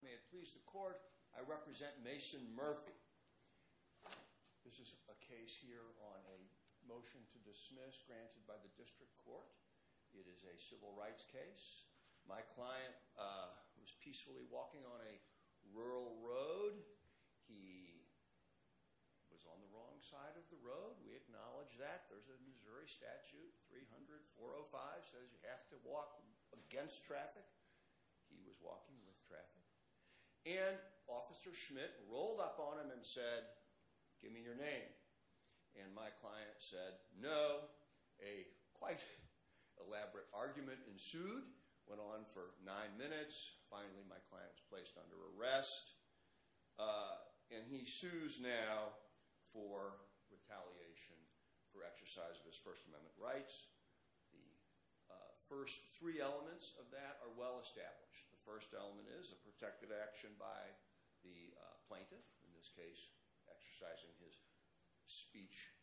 May it please the court, I represent Mason Murphy. This is a case here on a motion to dismiss granted by the district court. It is a civil rights case. My client was peacefully walking on a rural road. He was on the wrong side of the road. We acknowledge that. There's a Missouri statute, 300-405, says you have to walk against traffic. He was walking with traffic. And Officer Schmitt rolled up on him and said, give me your name. And my client said, no. A quite elaborate argument ensued, went on for nine minutes, finally my client was placed under arrest, and he sues now for retaliation for exercise of his First Amendment rights. The first three elements of that are well established. The first element is a protected action by the plaintiff, in this case exercising his speech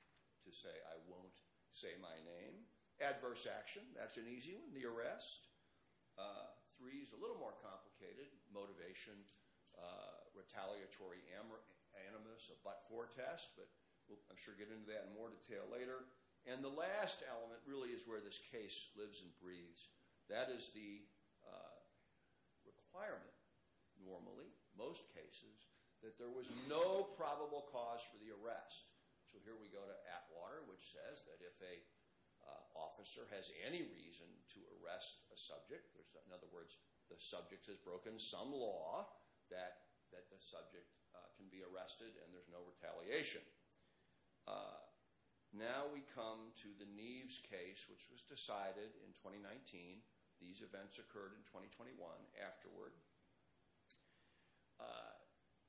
to say I won't say my name. Adverse action, that's an easy one, the arrest. Three is a little more complicated, motivation, retaliatory animus, a but-for test, but I'm sure we'll get into that in more detail later. And the last element really is where this case lives and breathes. That is the requirement, normally, most cases, that there was no probable cause for the arrest. So here we go to Atwater, which says that if an officer has any reason to arrest a subject, in other words, the subject has broken some law, that the subject can be arrested and there's no retaliation. Now we come to the Neves case, which was decided in 2019. These events occurred in 2021 afterward.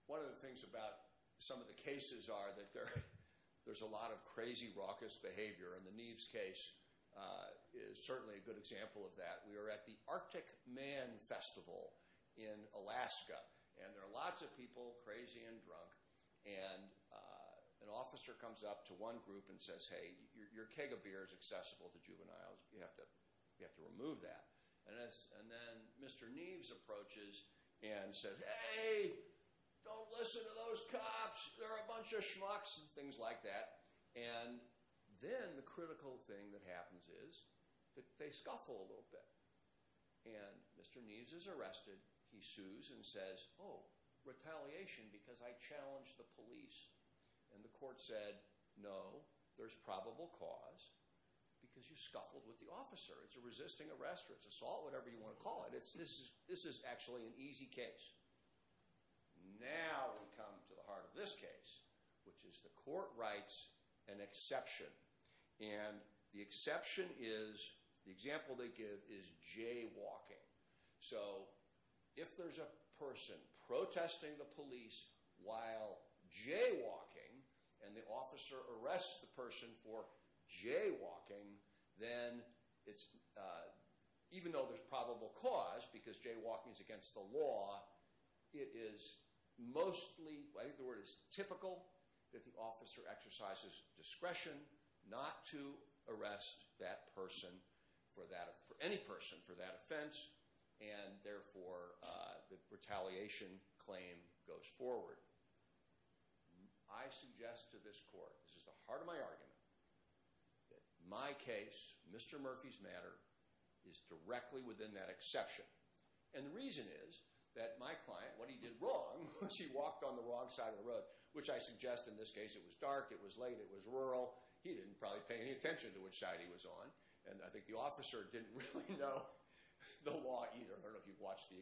One of the things about some of the cases are that there's a lot of crazy, raucous behavior and the Neves case is certainly a good example of that. We are at the Arctic Man Festival in Alaska, and there are lots of people, crazy and drunk, and an officer comes up to one group and says, hey, your keg of beer is accessible to juveniles, you have to remove that. And then Mr. Neves approaches and says, hey, don't listen to those cops, they're a bunch of schmucks and things like that. And then the critical thing that happens is that they scuffle a little bit. And Mr. Neves is arrested, he sues and says, oh, retaliation, because I challenged the police. And the court said, no, there's probable cause, because you scuffled with the officer. It's a resisting arrest or assault, whatever you want to call it. This is actually an easy case. Now we come to the heart of this case, which is the court writes an exception. And the exception is, the example they give is jaywalking. So if there's a person protesting the police while jaywalking, and the officer arrests the person for jaywalking, then it's, even though there's probable cause, because jaywalking is against the law, it is mostly, I think the word is typical, that the officer exercises discretion not to arrest that person, any person, for that offense. And therefore, the retaliation claim goes forward. I suggest to this court, this is the heart of my argument, that my case, Mr. Murphy's matter, is directly within that exception. And the reason is that my client, what he did wrong was he walked on the wrong side of the road, which I suggest in this case, it was dark, it was late, it was rural. He didn't probably pay any attention to which side he was on. And I think the officer didn't really know the law either. I don't know if you've watched the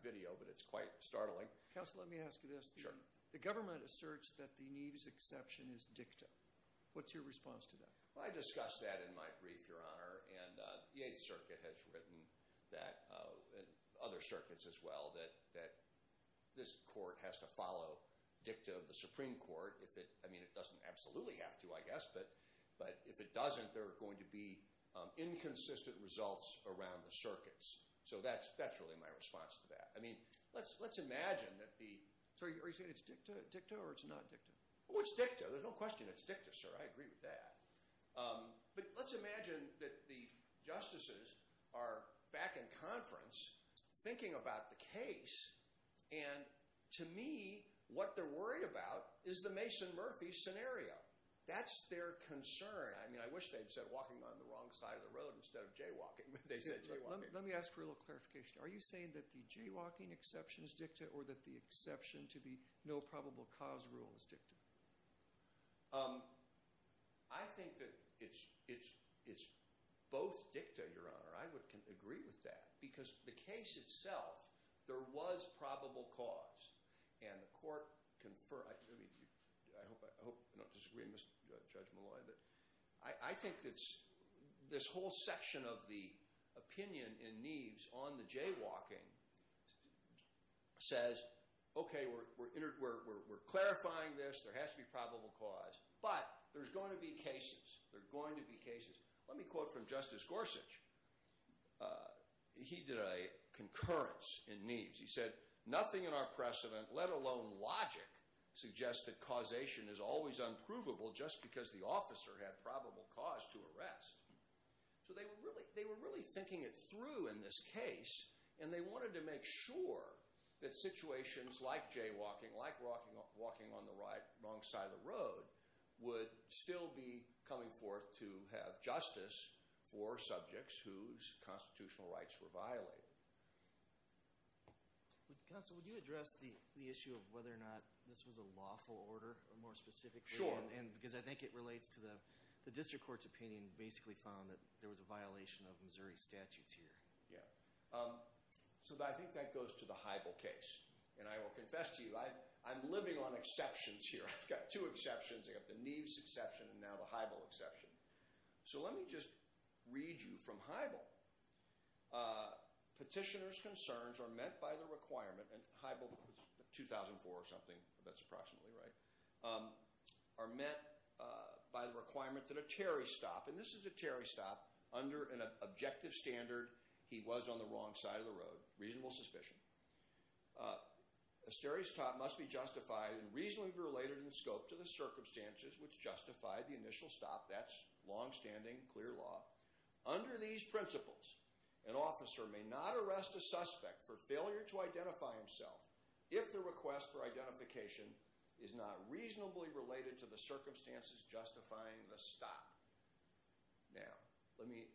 video, but it's quite startling. Counsel, let me ask you this. Sure. The government asserts that the Neve's exception is dicta. What's your response to that? Well, I discussed that in my brief, Your Honor. And the Eighth Circuit has written that, and other circuits as well, that this court has to follow dicta of the Supreme Court. If it, I mean, it doesn't absolutely have to, I guess, but if it doesn't, there are going to be inconsistent results around the circuits. So that's really my response to that. I mean, let's imagine that the. Sir, are you saying it's dicta or it's not dicta? Oh, it's dicta. There's no question it's dicta, sir. I agree with that. But let's imagine that the justices are back in conference thinking about the case. And to me, what they're worried about is the Mason Murphy scenario. That's their concern. I mean, I wish they'd said walking on the wrong side of the road instead of jaywalking, but they said jaywalking. Let me ask for a little clarification. Are you saying that the jaywalking exception is dicta or that the exception to the no probable cause rule is dicta? I think that it's both dicta, Your Honor. I would agree with that. Because the case itself, there was probable cause. And the court conferred, I mean, I hope I'm not disagreeing with Judge Malloy, but I think that this whole section of the opinion in Neeves on the jaywalking says, okay, we're clarifying this. There has to be probable cause. But there's going to be cases. There are going to be cases. Let me quote from Justice Gorsuch. He did a concurrence in Neeves. He said, nothing in our precedent, let alone logic, suggests that causation is always unprovable just because the officer had probable cause to arrest. So they were really thinking it through in this case. And they wanted to make sure that situations like jaywalking, like walking on the wrong side of the road, would still be coming forth to have justice for subjects whose constitutional rights were violated. Counsel, would you address the issue of whether or not this was a lawful order, more specifically? Sure. And because I think it relates to the district court's opinion basically found that there was a violation of Missouri statutes here. Yeah. So I think that goes to the Heibel case. And I will confess to you, I'm living on exceptions here. I've got two exceptions. I've got the Neeves exception and now the Heibel exception. So let me just read you from Heibel. Petitioner's concerns are met by the requirement, and Heibel 2004 or something, that's approximately right, are met by the requirement that a Terry stop. And this is a Terry stop under an objective standard. He was on the wrong side of the road. Reasonable suspicion. A Terry stop must be justified and reasonably related in scope to the circumstances which justified the initial stop. That's longstanding clear law. Under these principles, an officer may not arrest a suspect for failure to identify himself if the request for identification is not reasonably related to the circumstances justifying the stop. Now, let me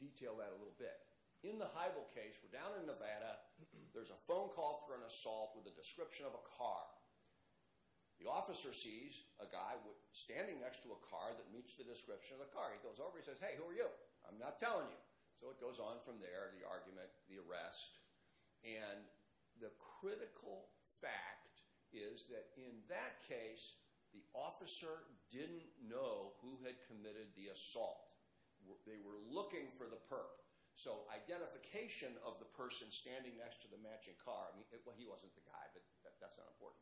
detail that a little bit. In the Heibel case, we're down in Nevada. There's a phone call for an assault with a description of a car. The officer sees a guy standing next to a car that meets the description of the car. He goes over, he says, hey, who are you? I'm not telling you. So it goes on from there, the argument, the arrest. And the critical fact is that in that case, the officer didn't know who had committed the assault. They were looking for the perp. So identification of the person standing next to the matching car. I mean, he wasn't the guy, but that's not important.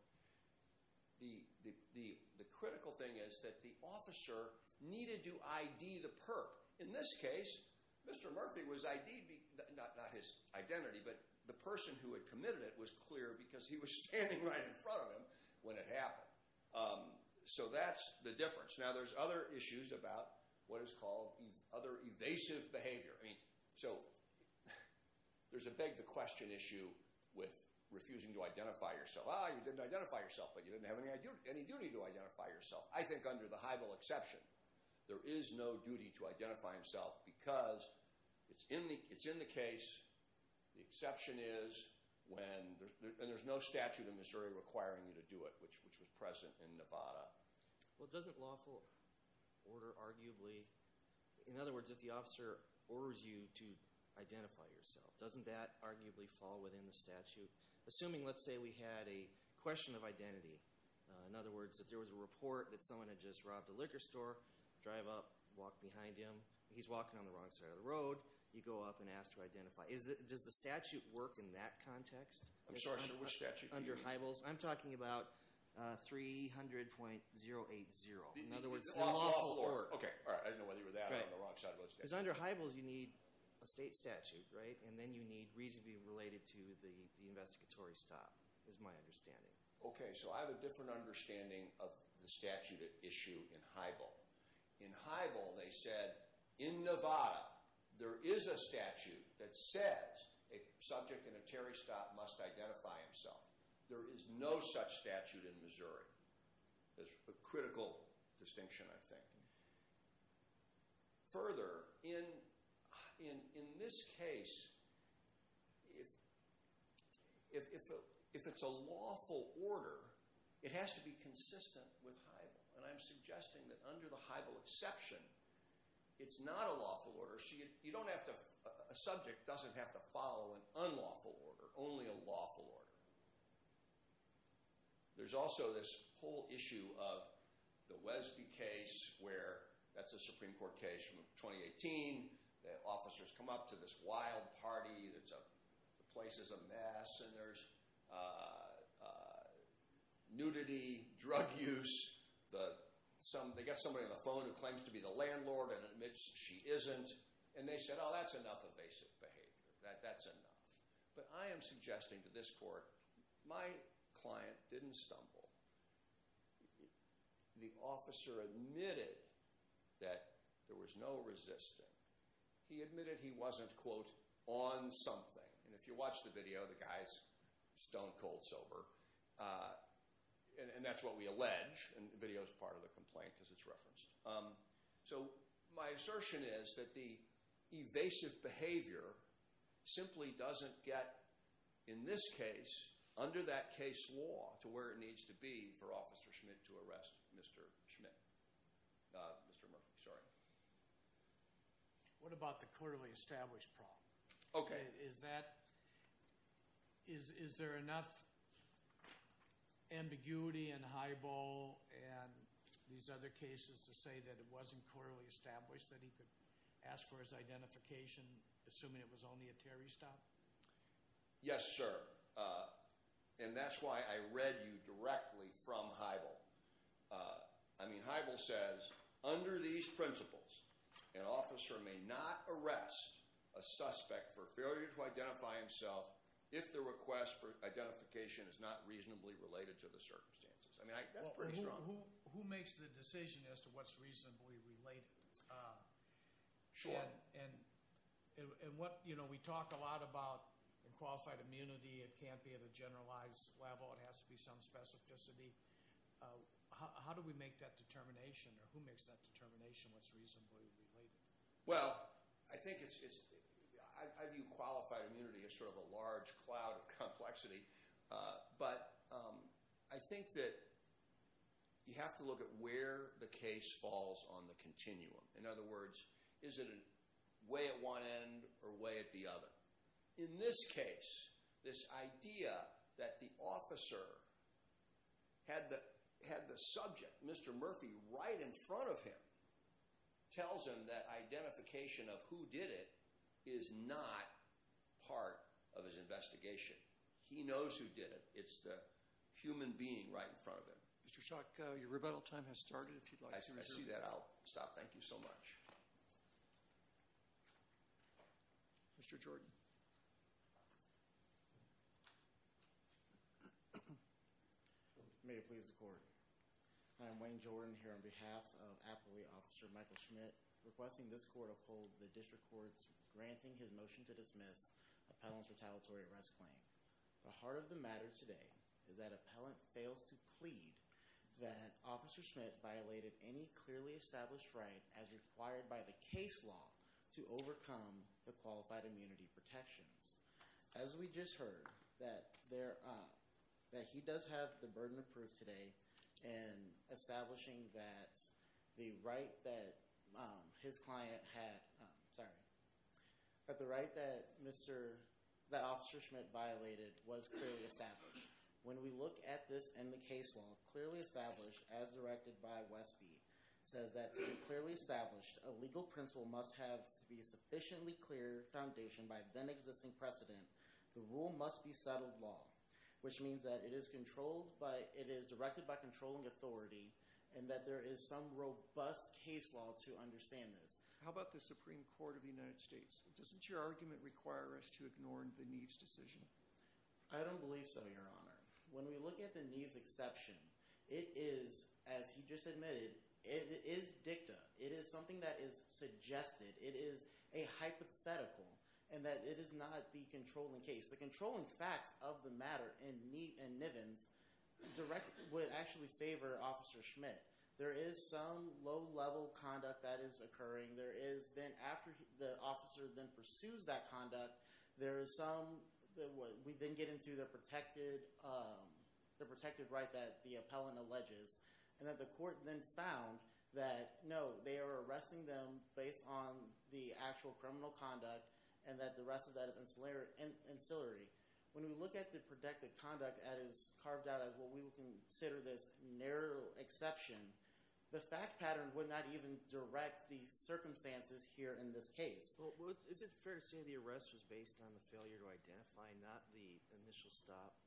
The critical thing is that the officer needed to ID the perp. In this case, Mr. Murphy was ID'd, not his identity, but the person who had committed it was clear because he was standing right in front of him when it happened. So that's the difference. Now, there's other issues about what is called other evasive behavior. So there's a big question issue with refusing to identify yourself. Ah, you didn't identify yourself, but you didn't have any duty to identify yourself. I think under the high bill exception, there is no duty to identify himself because it's in the case, the exception is when, and there's no statute in Missouri requiring you to do it, which was present in Nevada. Well, doesn't lawful order arguably, in other words, if the officer orders you to identify yourself, doesn't that arguably fall within the statute? Assuming, let's say, we had a question of identity. In other words, if there was a report that someone had just robbed a liquor store, drive up, walk behind him. He's walking on the wrong side of the road. You go up and ask to identify. Does the statute work in that context? I'm sorry, under which statute? Under high bills. I'm talking about 300.080. In other words, lawful order. Okay. All right. I didn't know whether you were that or on the wrong side of the road. Because under high bills, you need a state statute, right? And then you need reason to be related to the investigatory stop, is my understanding. Okay. So I have a different understanding of the statute at issue in high bill. In high bill, they said in Nevada, there is a statute that says a subject in a Terry stop must identify himself. There is no such statute in Missouri. There's a critical distinction, I think. Further, in this case, if it's a lawful order, it has to be consistent with high bill. And I'm suggesting that under the high bill exception, it's not a lawful order. So you don't have to, a subject doesn't have to follow an unlawful order. Only a lawful order. There's also this whole issue of the Wesby case where, that's a Supreme Court case from 2018. The officers come up to this wild party. There's a, the place is a mess. And there's nudity, drug use. They get somebody on the phone who claims to be the landlord and admits she isn't. And they said, oh, that's enough evasive behavior. That's enough. But I am suggesting to this court, my client didn't stumble. The officer admitted that there was no resisting. He admitted he wasn't, quote, on something. And if you watch the video, the guy's stone cold sober. And that's what we allege. And the video's part of the complaint because it's referenced. So my assertion is that the evasive behavior simply doesn't get, in this case, under that case law to where it needs to be for Officer Schmidt to arrest Mr. Schmidt. Not Mr. Murphy, sorry. What about the clearly established problem? Okay. Is that, is there enough ambiguity and high ball and these other cases to say that it wasn't clearly established that he could ask for his identification assuming it was only a Terry stop? Yes, sir. And that's why I read you directly from high ball. I mean, high ball says, under these principles, an officer may not arrest a suspect for failure to identify himself if the request for identification is not reasonably related to the circumstances. I mean, that's pretty strong. Who makes the decision as to what's reasonably related? Sure. And what, you know, we talk a lot about in qualified immunity, it can't be at a generalized level, it has to be some specificity. How do we make that determination or who makes that determination what's reasonably related? Well, I think it's, I view qualified immunity as sort of a large cloud of complexity. But I think that you have to look at where the case falls on the continuum. In other words, is it way at one end or way at the other? In this case, this idea that the officer had the subject, Mr. Murphy, right in front of him, tells him that identification of who did it is not part of his investigation. He knows who did it. It's the human being right in front of him. Mr. Schock, your rebuttal time has started. If you'd like to resume. I see that. I'll stop. Thank you so much. Mr. Jordan. May it please the court. I'm Wayne Jordan here on behalf of Appellee Officer Michael Schmidt, requesting this court uphold the district court's granting his motion to dismiss Appellant's retaliatory arrest claim. The heart of the matter today is that Appellant fails to plead that Officer Schmidt violated any clearly established right as required by the case law to overcome the qualified immunity protections. As we just heard, that he does have the burden of proof today in establishing that the right that his client had, sorry, that the right that Officer Schmidt violated was clearly established. When we look at this in the case law, clearly established as directed by Westby, says that to be clearly established, a legal principle must have to be sufficiently clear foundation by then existing precedent. The rule must be settled law, which means that it is controlled by, it is directed by controlling authority and that there is some robust case law to understand this. How about the Supreme Court of the United States? Doesn't your argument require us to ignore the Neves decision? I don't believe so, Your Honor. When we look at the Neves exception, it is, as he just admitted, it is dicta. It is something that is suggested. It is a hypothetical and that it is not the controlling case. The controlling facts of the matter in Neves would actually favor Officer Schmidt. There is some low-level conduct that is occurring. There is then, after the officer then pursues that conduct, there is some, we then get into the protected right that the appellant alleges and that the court then found that no, they are arresting them based on the actual criminal conduct and that the rest of that is ancillary. When we look at the protected conduct that is carved out as what we would consider this narrow exception, the fact pattern would not even direct the circumstances here in this case. Well, is it fair to say the arrest was based on the failure to identify, not the initial stop?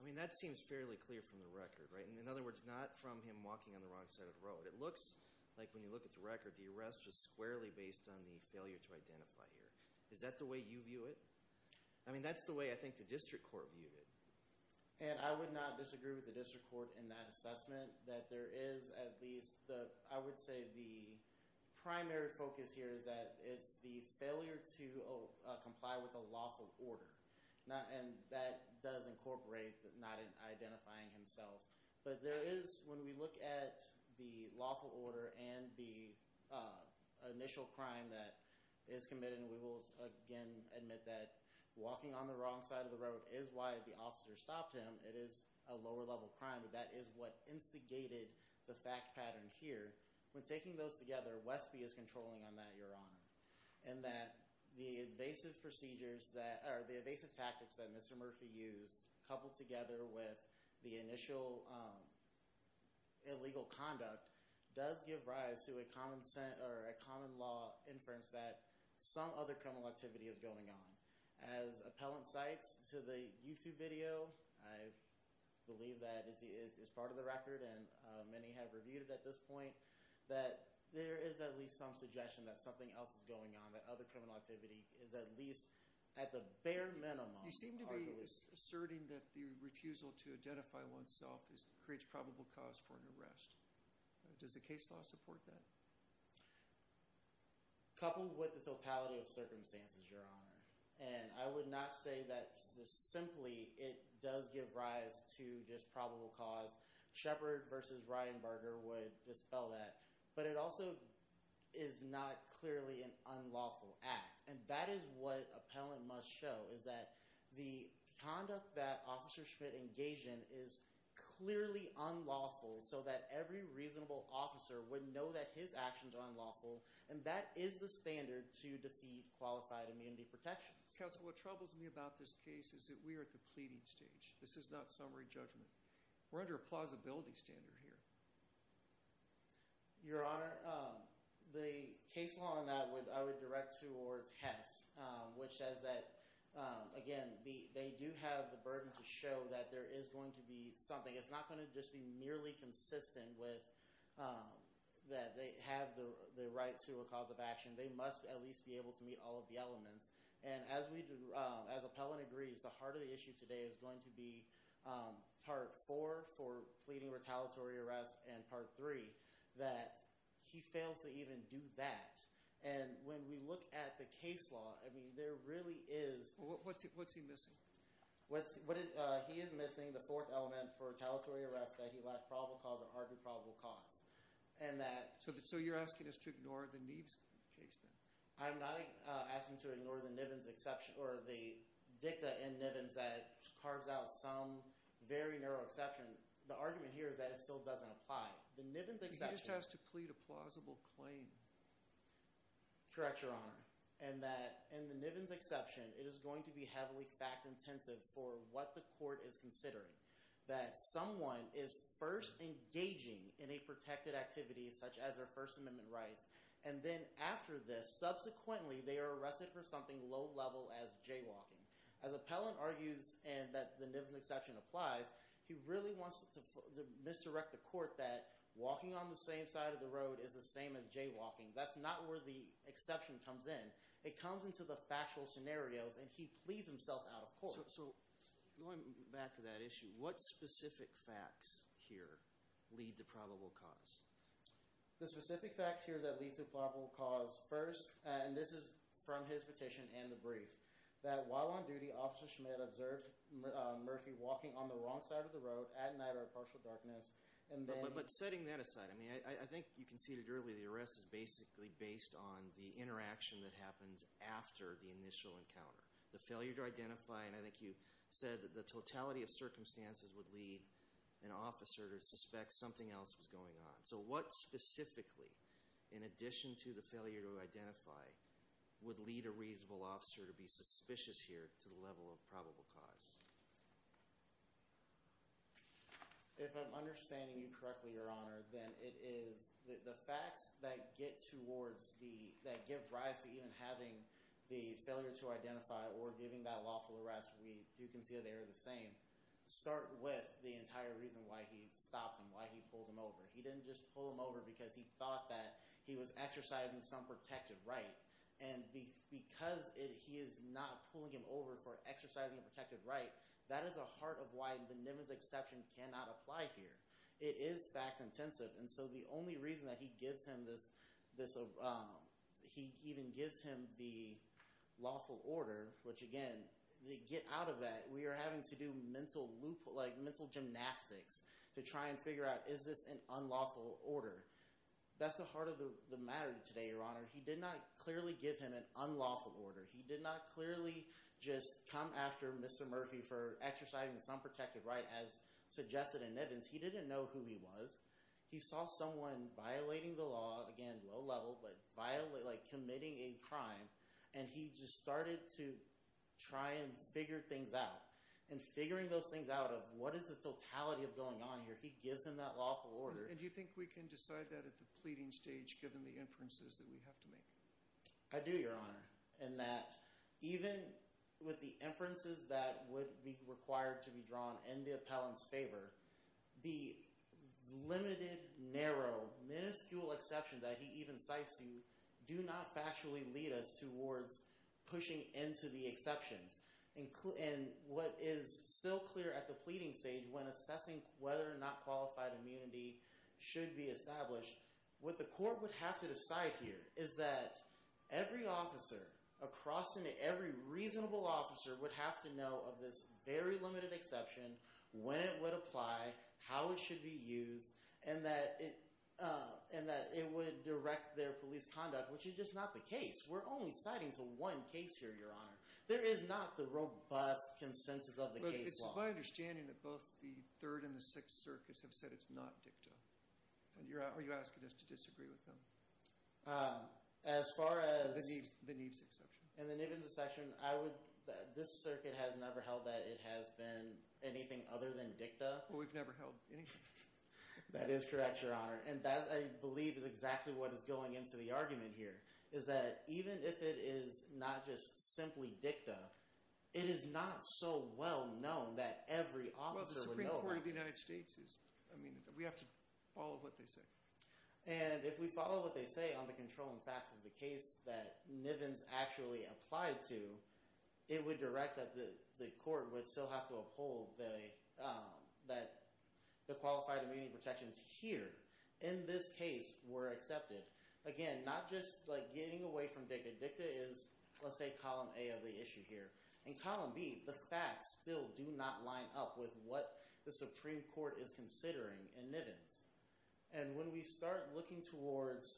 I mean, that seems fairly clear from the record, right? And in other words, not from him walking on the wrong side of the road. It looks like when you look at the record, the arrest was squarely based on the failure to identify here. Is that the way you view it? I mean, that's the way I think the district court viewed it. And I would not disagree with the district court in that assessment that there is at least the, I would say the primary focus here is that it's the failure to comply with a lawful order. And that does incorporate not identifying himself. But there is, when we look at the lawful order and the initial crime that is committed, and we will again admit that walking on the wrong side of the road is why the officer stopped him. It is a lower level crime, but that is what instigated the fact pattern here. When taking those together, Westby is controlling on that, your honor. And that the evasive procedures that, or the evasive tactics that Mr. Murphy used, coupled together with the initial illegal conduct, does give rise to a common law inference that some other criminal activity is going on. As appellant cites to the YouTube video, I believe that is part of the record and many have reviewed it at this point, that there is at least some suggestion that something else is going on. That other criminal activity is at least at the bare minimum. You seem to be asserting that the refusal to identify oneself creates probable cause for an arrest. Does the case law support that? Coupled with the totality of circumstances, your honor. And I would not say that simply it does give rise to just probable cause. Shepard versus Ryan Barger would dispel that. But it also is not clearly an unlawful act. And that is what appellant must show is that the conduct that officer Schmidt engaged in is clearly unlawful so that every reasonable officer would know that his actions are unlawful. And that is the standard to defeat qualified immunity protections. Counsel, what troubles me about this case is that we are at the pleading stage. This is not summary judgment. We're under a plausibility standard here. Your honor, the case law on that I would direct towards Hess. Which says that, again, they do have the burden to show that there is going to be something. It's not gonna just be merely consistent with that they have the right to a cause of action. They must at least be able to meet all of the elements. And as appellant agrees, the heart of the issue today is going to be part four for the jury that he fails to even do that. And when we look at the case law, I mean, there really is- What's he missing? What's, he is missing the fourth element for a tellatory arrest that he lacked probable cause or argued probable cause. And that- So you're asking us to ignore the Neves case then? I'm not asking to ignore the Nivens exception or the dicta in Nivens that carves out some very narrow exception. The argument here is that it still doesn't apply. He just has to plead a plausible claim. Correct, your honor. And that in the Nivens exception, it is going to be heavily fact intensive for what the court is considering. That someone is first engaging in a protected activity, such as their First Amendment rights. And then after this, subsequently, they are arrested for something low level as jaywalking. As appellant argues and that the Nivens exception applies, he really wants to misdirect the court that walking on the same side of the road is the same as jaywalking. That's not where the exception comes in. It comes into the factual scenarios and he pleads himself out of court. So going back to that issue, what specific facts here lead to probable cause? The specific facts here that lead to probable cause first, and this is from his petition and the brief. That while on duty, Officer Schmidt observed Murphy walking on the wrong side of the road at night or partial darkness, and then- But setting that aside, I think you conceded earlier, the arrest is basically based on the interaction that happens after the initial encounter. The failure to identify, and I think you said that the totality of circumstances would lead an officer to suspect something else was going on. So what specifically, in addition to the failure to identify, would lead a reasonable officer to be suspicious here to the level of probable cause? If I'm understanding you correctly, Your Honor, then it is the facts that get towards the, that give rise to even having the failure to identify or giving that lawful arrest, we do concede they are the same. Start with the entire reason why he stopped him, why he pulled him over. He didn't just pull him over because he thought that he was exercising some protected right, and because he is not pulling him over for exercising a protected right, that is the heart of why the NIMA's exception cannot apply here. It is fact intensive, and so the only reason that he gives him this, he even gives him the lawful order, which again, to get out of that, we are having to do mental gymnastics to try and figure out, is this an unlawful order? That's the heart of the matter today, Your Honor. He did not clearly give him an unlawful order. He did not clearly just come after Mr. Murphy for exercising some protected right as suggested in Nivens. He didn't know who he was. He saw someone violating the law, again, low level, but violating, like committing a crime. And he just started to try and figure things out. And figuring those things out of what is the totality of going on here, he gives him that lawful order. And do you think we can decide that at the pleading stage, given the inferences that we have to make? I do, Your Honor, in that even with the inferences that would be required to be drawn in the appellant's favor, the limited, narrow, minuscule exceptions that he even cites to you do not factually lead us towards pushing into the exceptions. And what is still clear at the pleading stage, when assessing whether or not qualified immunity should be established, what the court would have to decide here is that every officer across, and every reasonable officer would have to know of this very limited exception, when it would apply, how it should be used, and that it would direct their police conduct, which is just not the case. We're only citing to one case here, Your Honor. There is not the robust consensus of the case law. It's my understanding that both the Third and the Sixth Circuits have said it's not dicta. Are you asking us to disagree with them? As far as... The Neeves exception. And the Neeves exception, I would... This circuit has never held that it has been anything other than dicta. Well, we've never held anything. That is correct, Your Honor. And that, I believe, is exactly what is going into the argument here, is that even if it is not just simply dicta, it is not so well-known that every officer would know about this. Well, the Supreme Court of the United States is... I mean, we have to follow what they say. And if we follow what they say on the controlling facts of the case that Nivens actually applied to, it would direct that the court would still have to uphold that the qualified immunity protections here, in this case, were accepted. Again, not just getting away from dicta. Dicta is, let's say, column A of the issue here. In column B, the facts still do not line up with what the Supreme Court is considering in Nivens. And when we start looking towards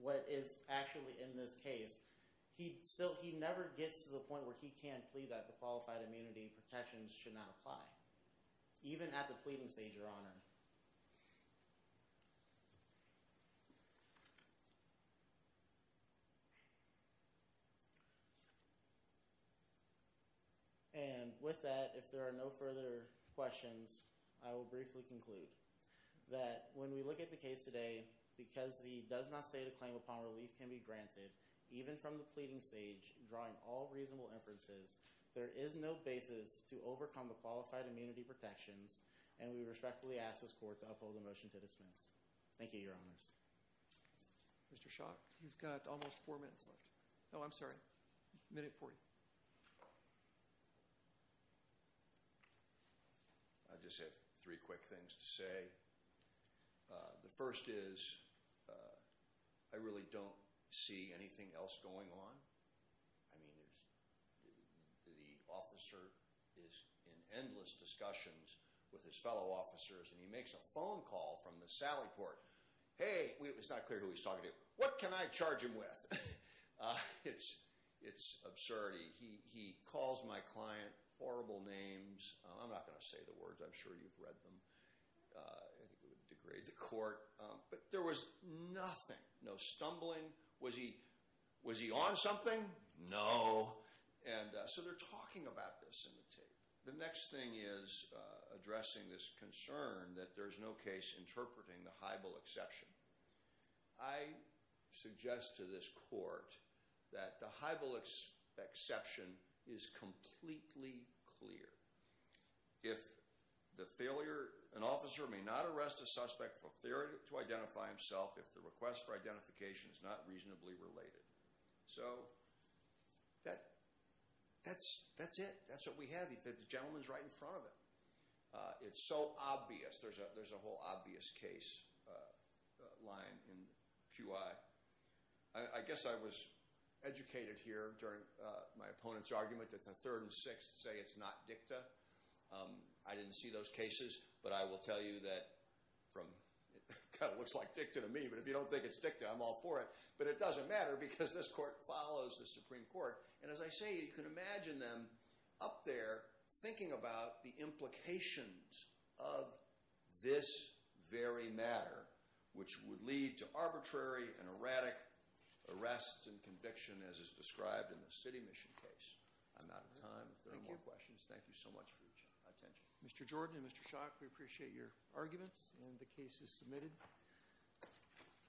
what is actually in this case, he never gets to the point where he can plead that the qualified immunity protections should not apply. Even at the pleading stage, Your Honor. And with that, if there are no further questions, I will briefly conclude that when we look at the case today, because the does-not-say-to-claim-upon-relief-can-be-granted, even from the pleading stage, drawing all reasonable inferences, there is no basis to overcome the qualified immunity protections, and we respectfully ask this court to uphold the motion to dismiss. Thank you, Your Honors. Mr. Schock, you've got almost four minutes left. Oh, I'm sorry. Minute 40. I just have three quick things to say. The first is, I really don't see anything else going on. I mean, the officer is in endless discussions with his fellow officers, and he makes a phone call from the Sally Port. Hey, it's not clear who he's talking to. What can I charge him with? It's absurd. He calls my client horrible names. I'm not going to say the words. I'm sure you've read them. I think it would degrade the court. But there was nothing. No stumbling. Was he on something? No. And so they're talking about this in the tape. The next thing is addressing this concern that there's no case interpreting the Heibel exception. I suggest to this court that the Heibel exception is completely clear. If the failure, an officer may not arrest a suspect for failure to identify himself if the request for identification is not reasonably related. So that's it. That's what we have. He said the gentleman's right in front of him. It's so obvious. There's a whole obvious case line in QI. I guess I was educated here during my opponent's argument that the third and sixth say it's not dicta. I didn't see those cases. But I will tell you that it kind of looks like dicta to me. But if you don't think it's dicta, I'm all for it. But it doesn't matter because this court follows the Supreme Court. And as I say, you can imagine them up there thinking about the implications of this very matter, which would lead to arbitrary and erratic arrests and conviction as is described in the city mission case. I'm out of time if there are more questions. Thank you so much for your attention. Mr. Jordan and Mr. Schock, we appreciate your arguments and the cases submitted.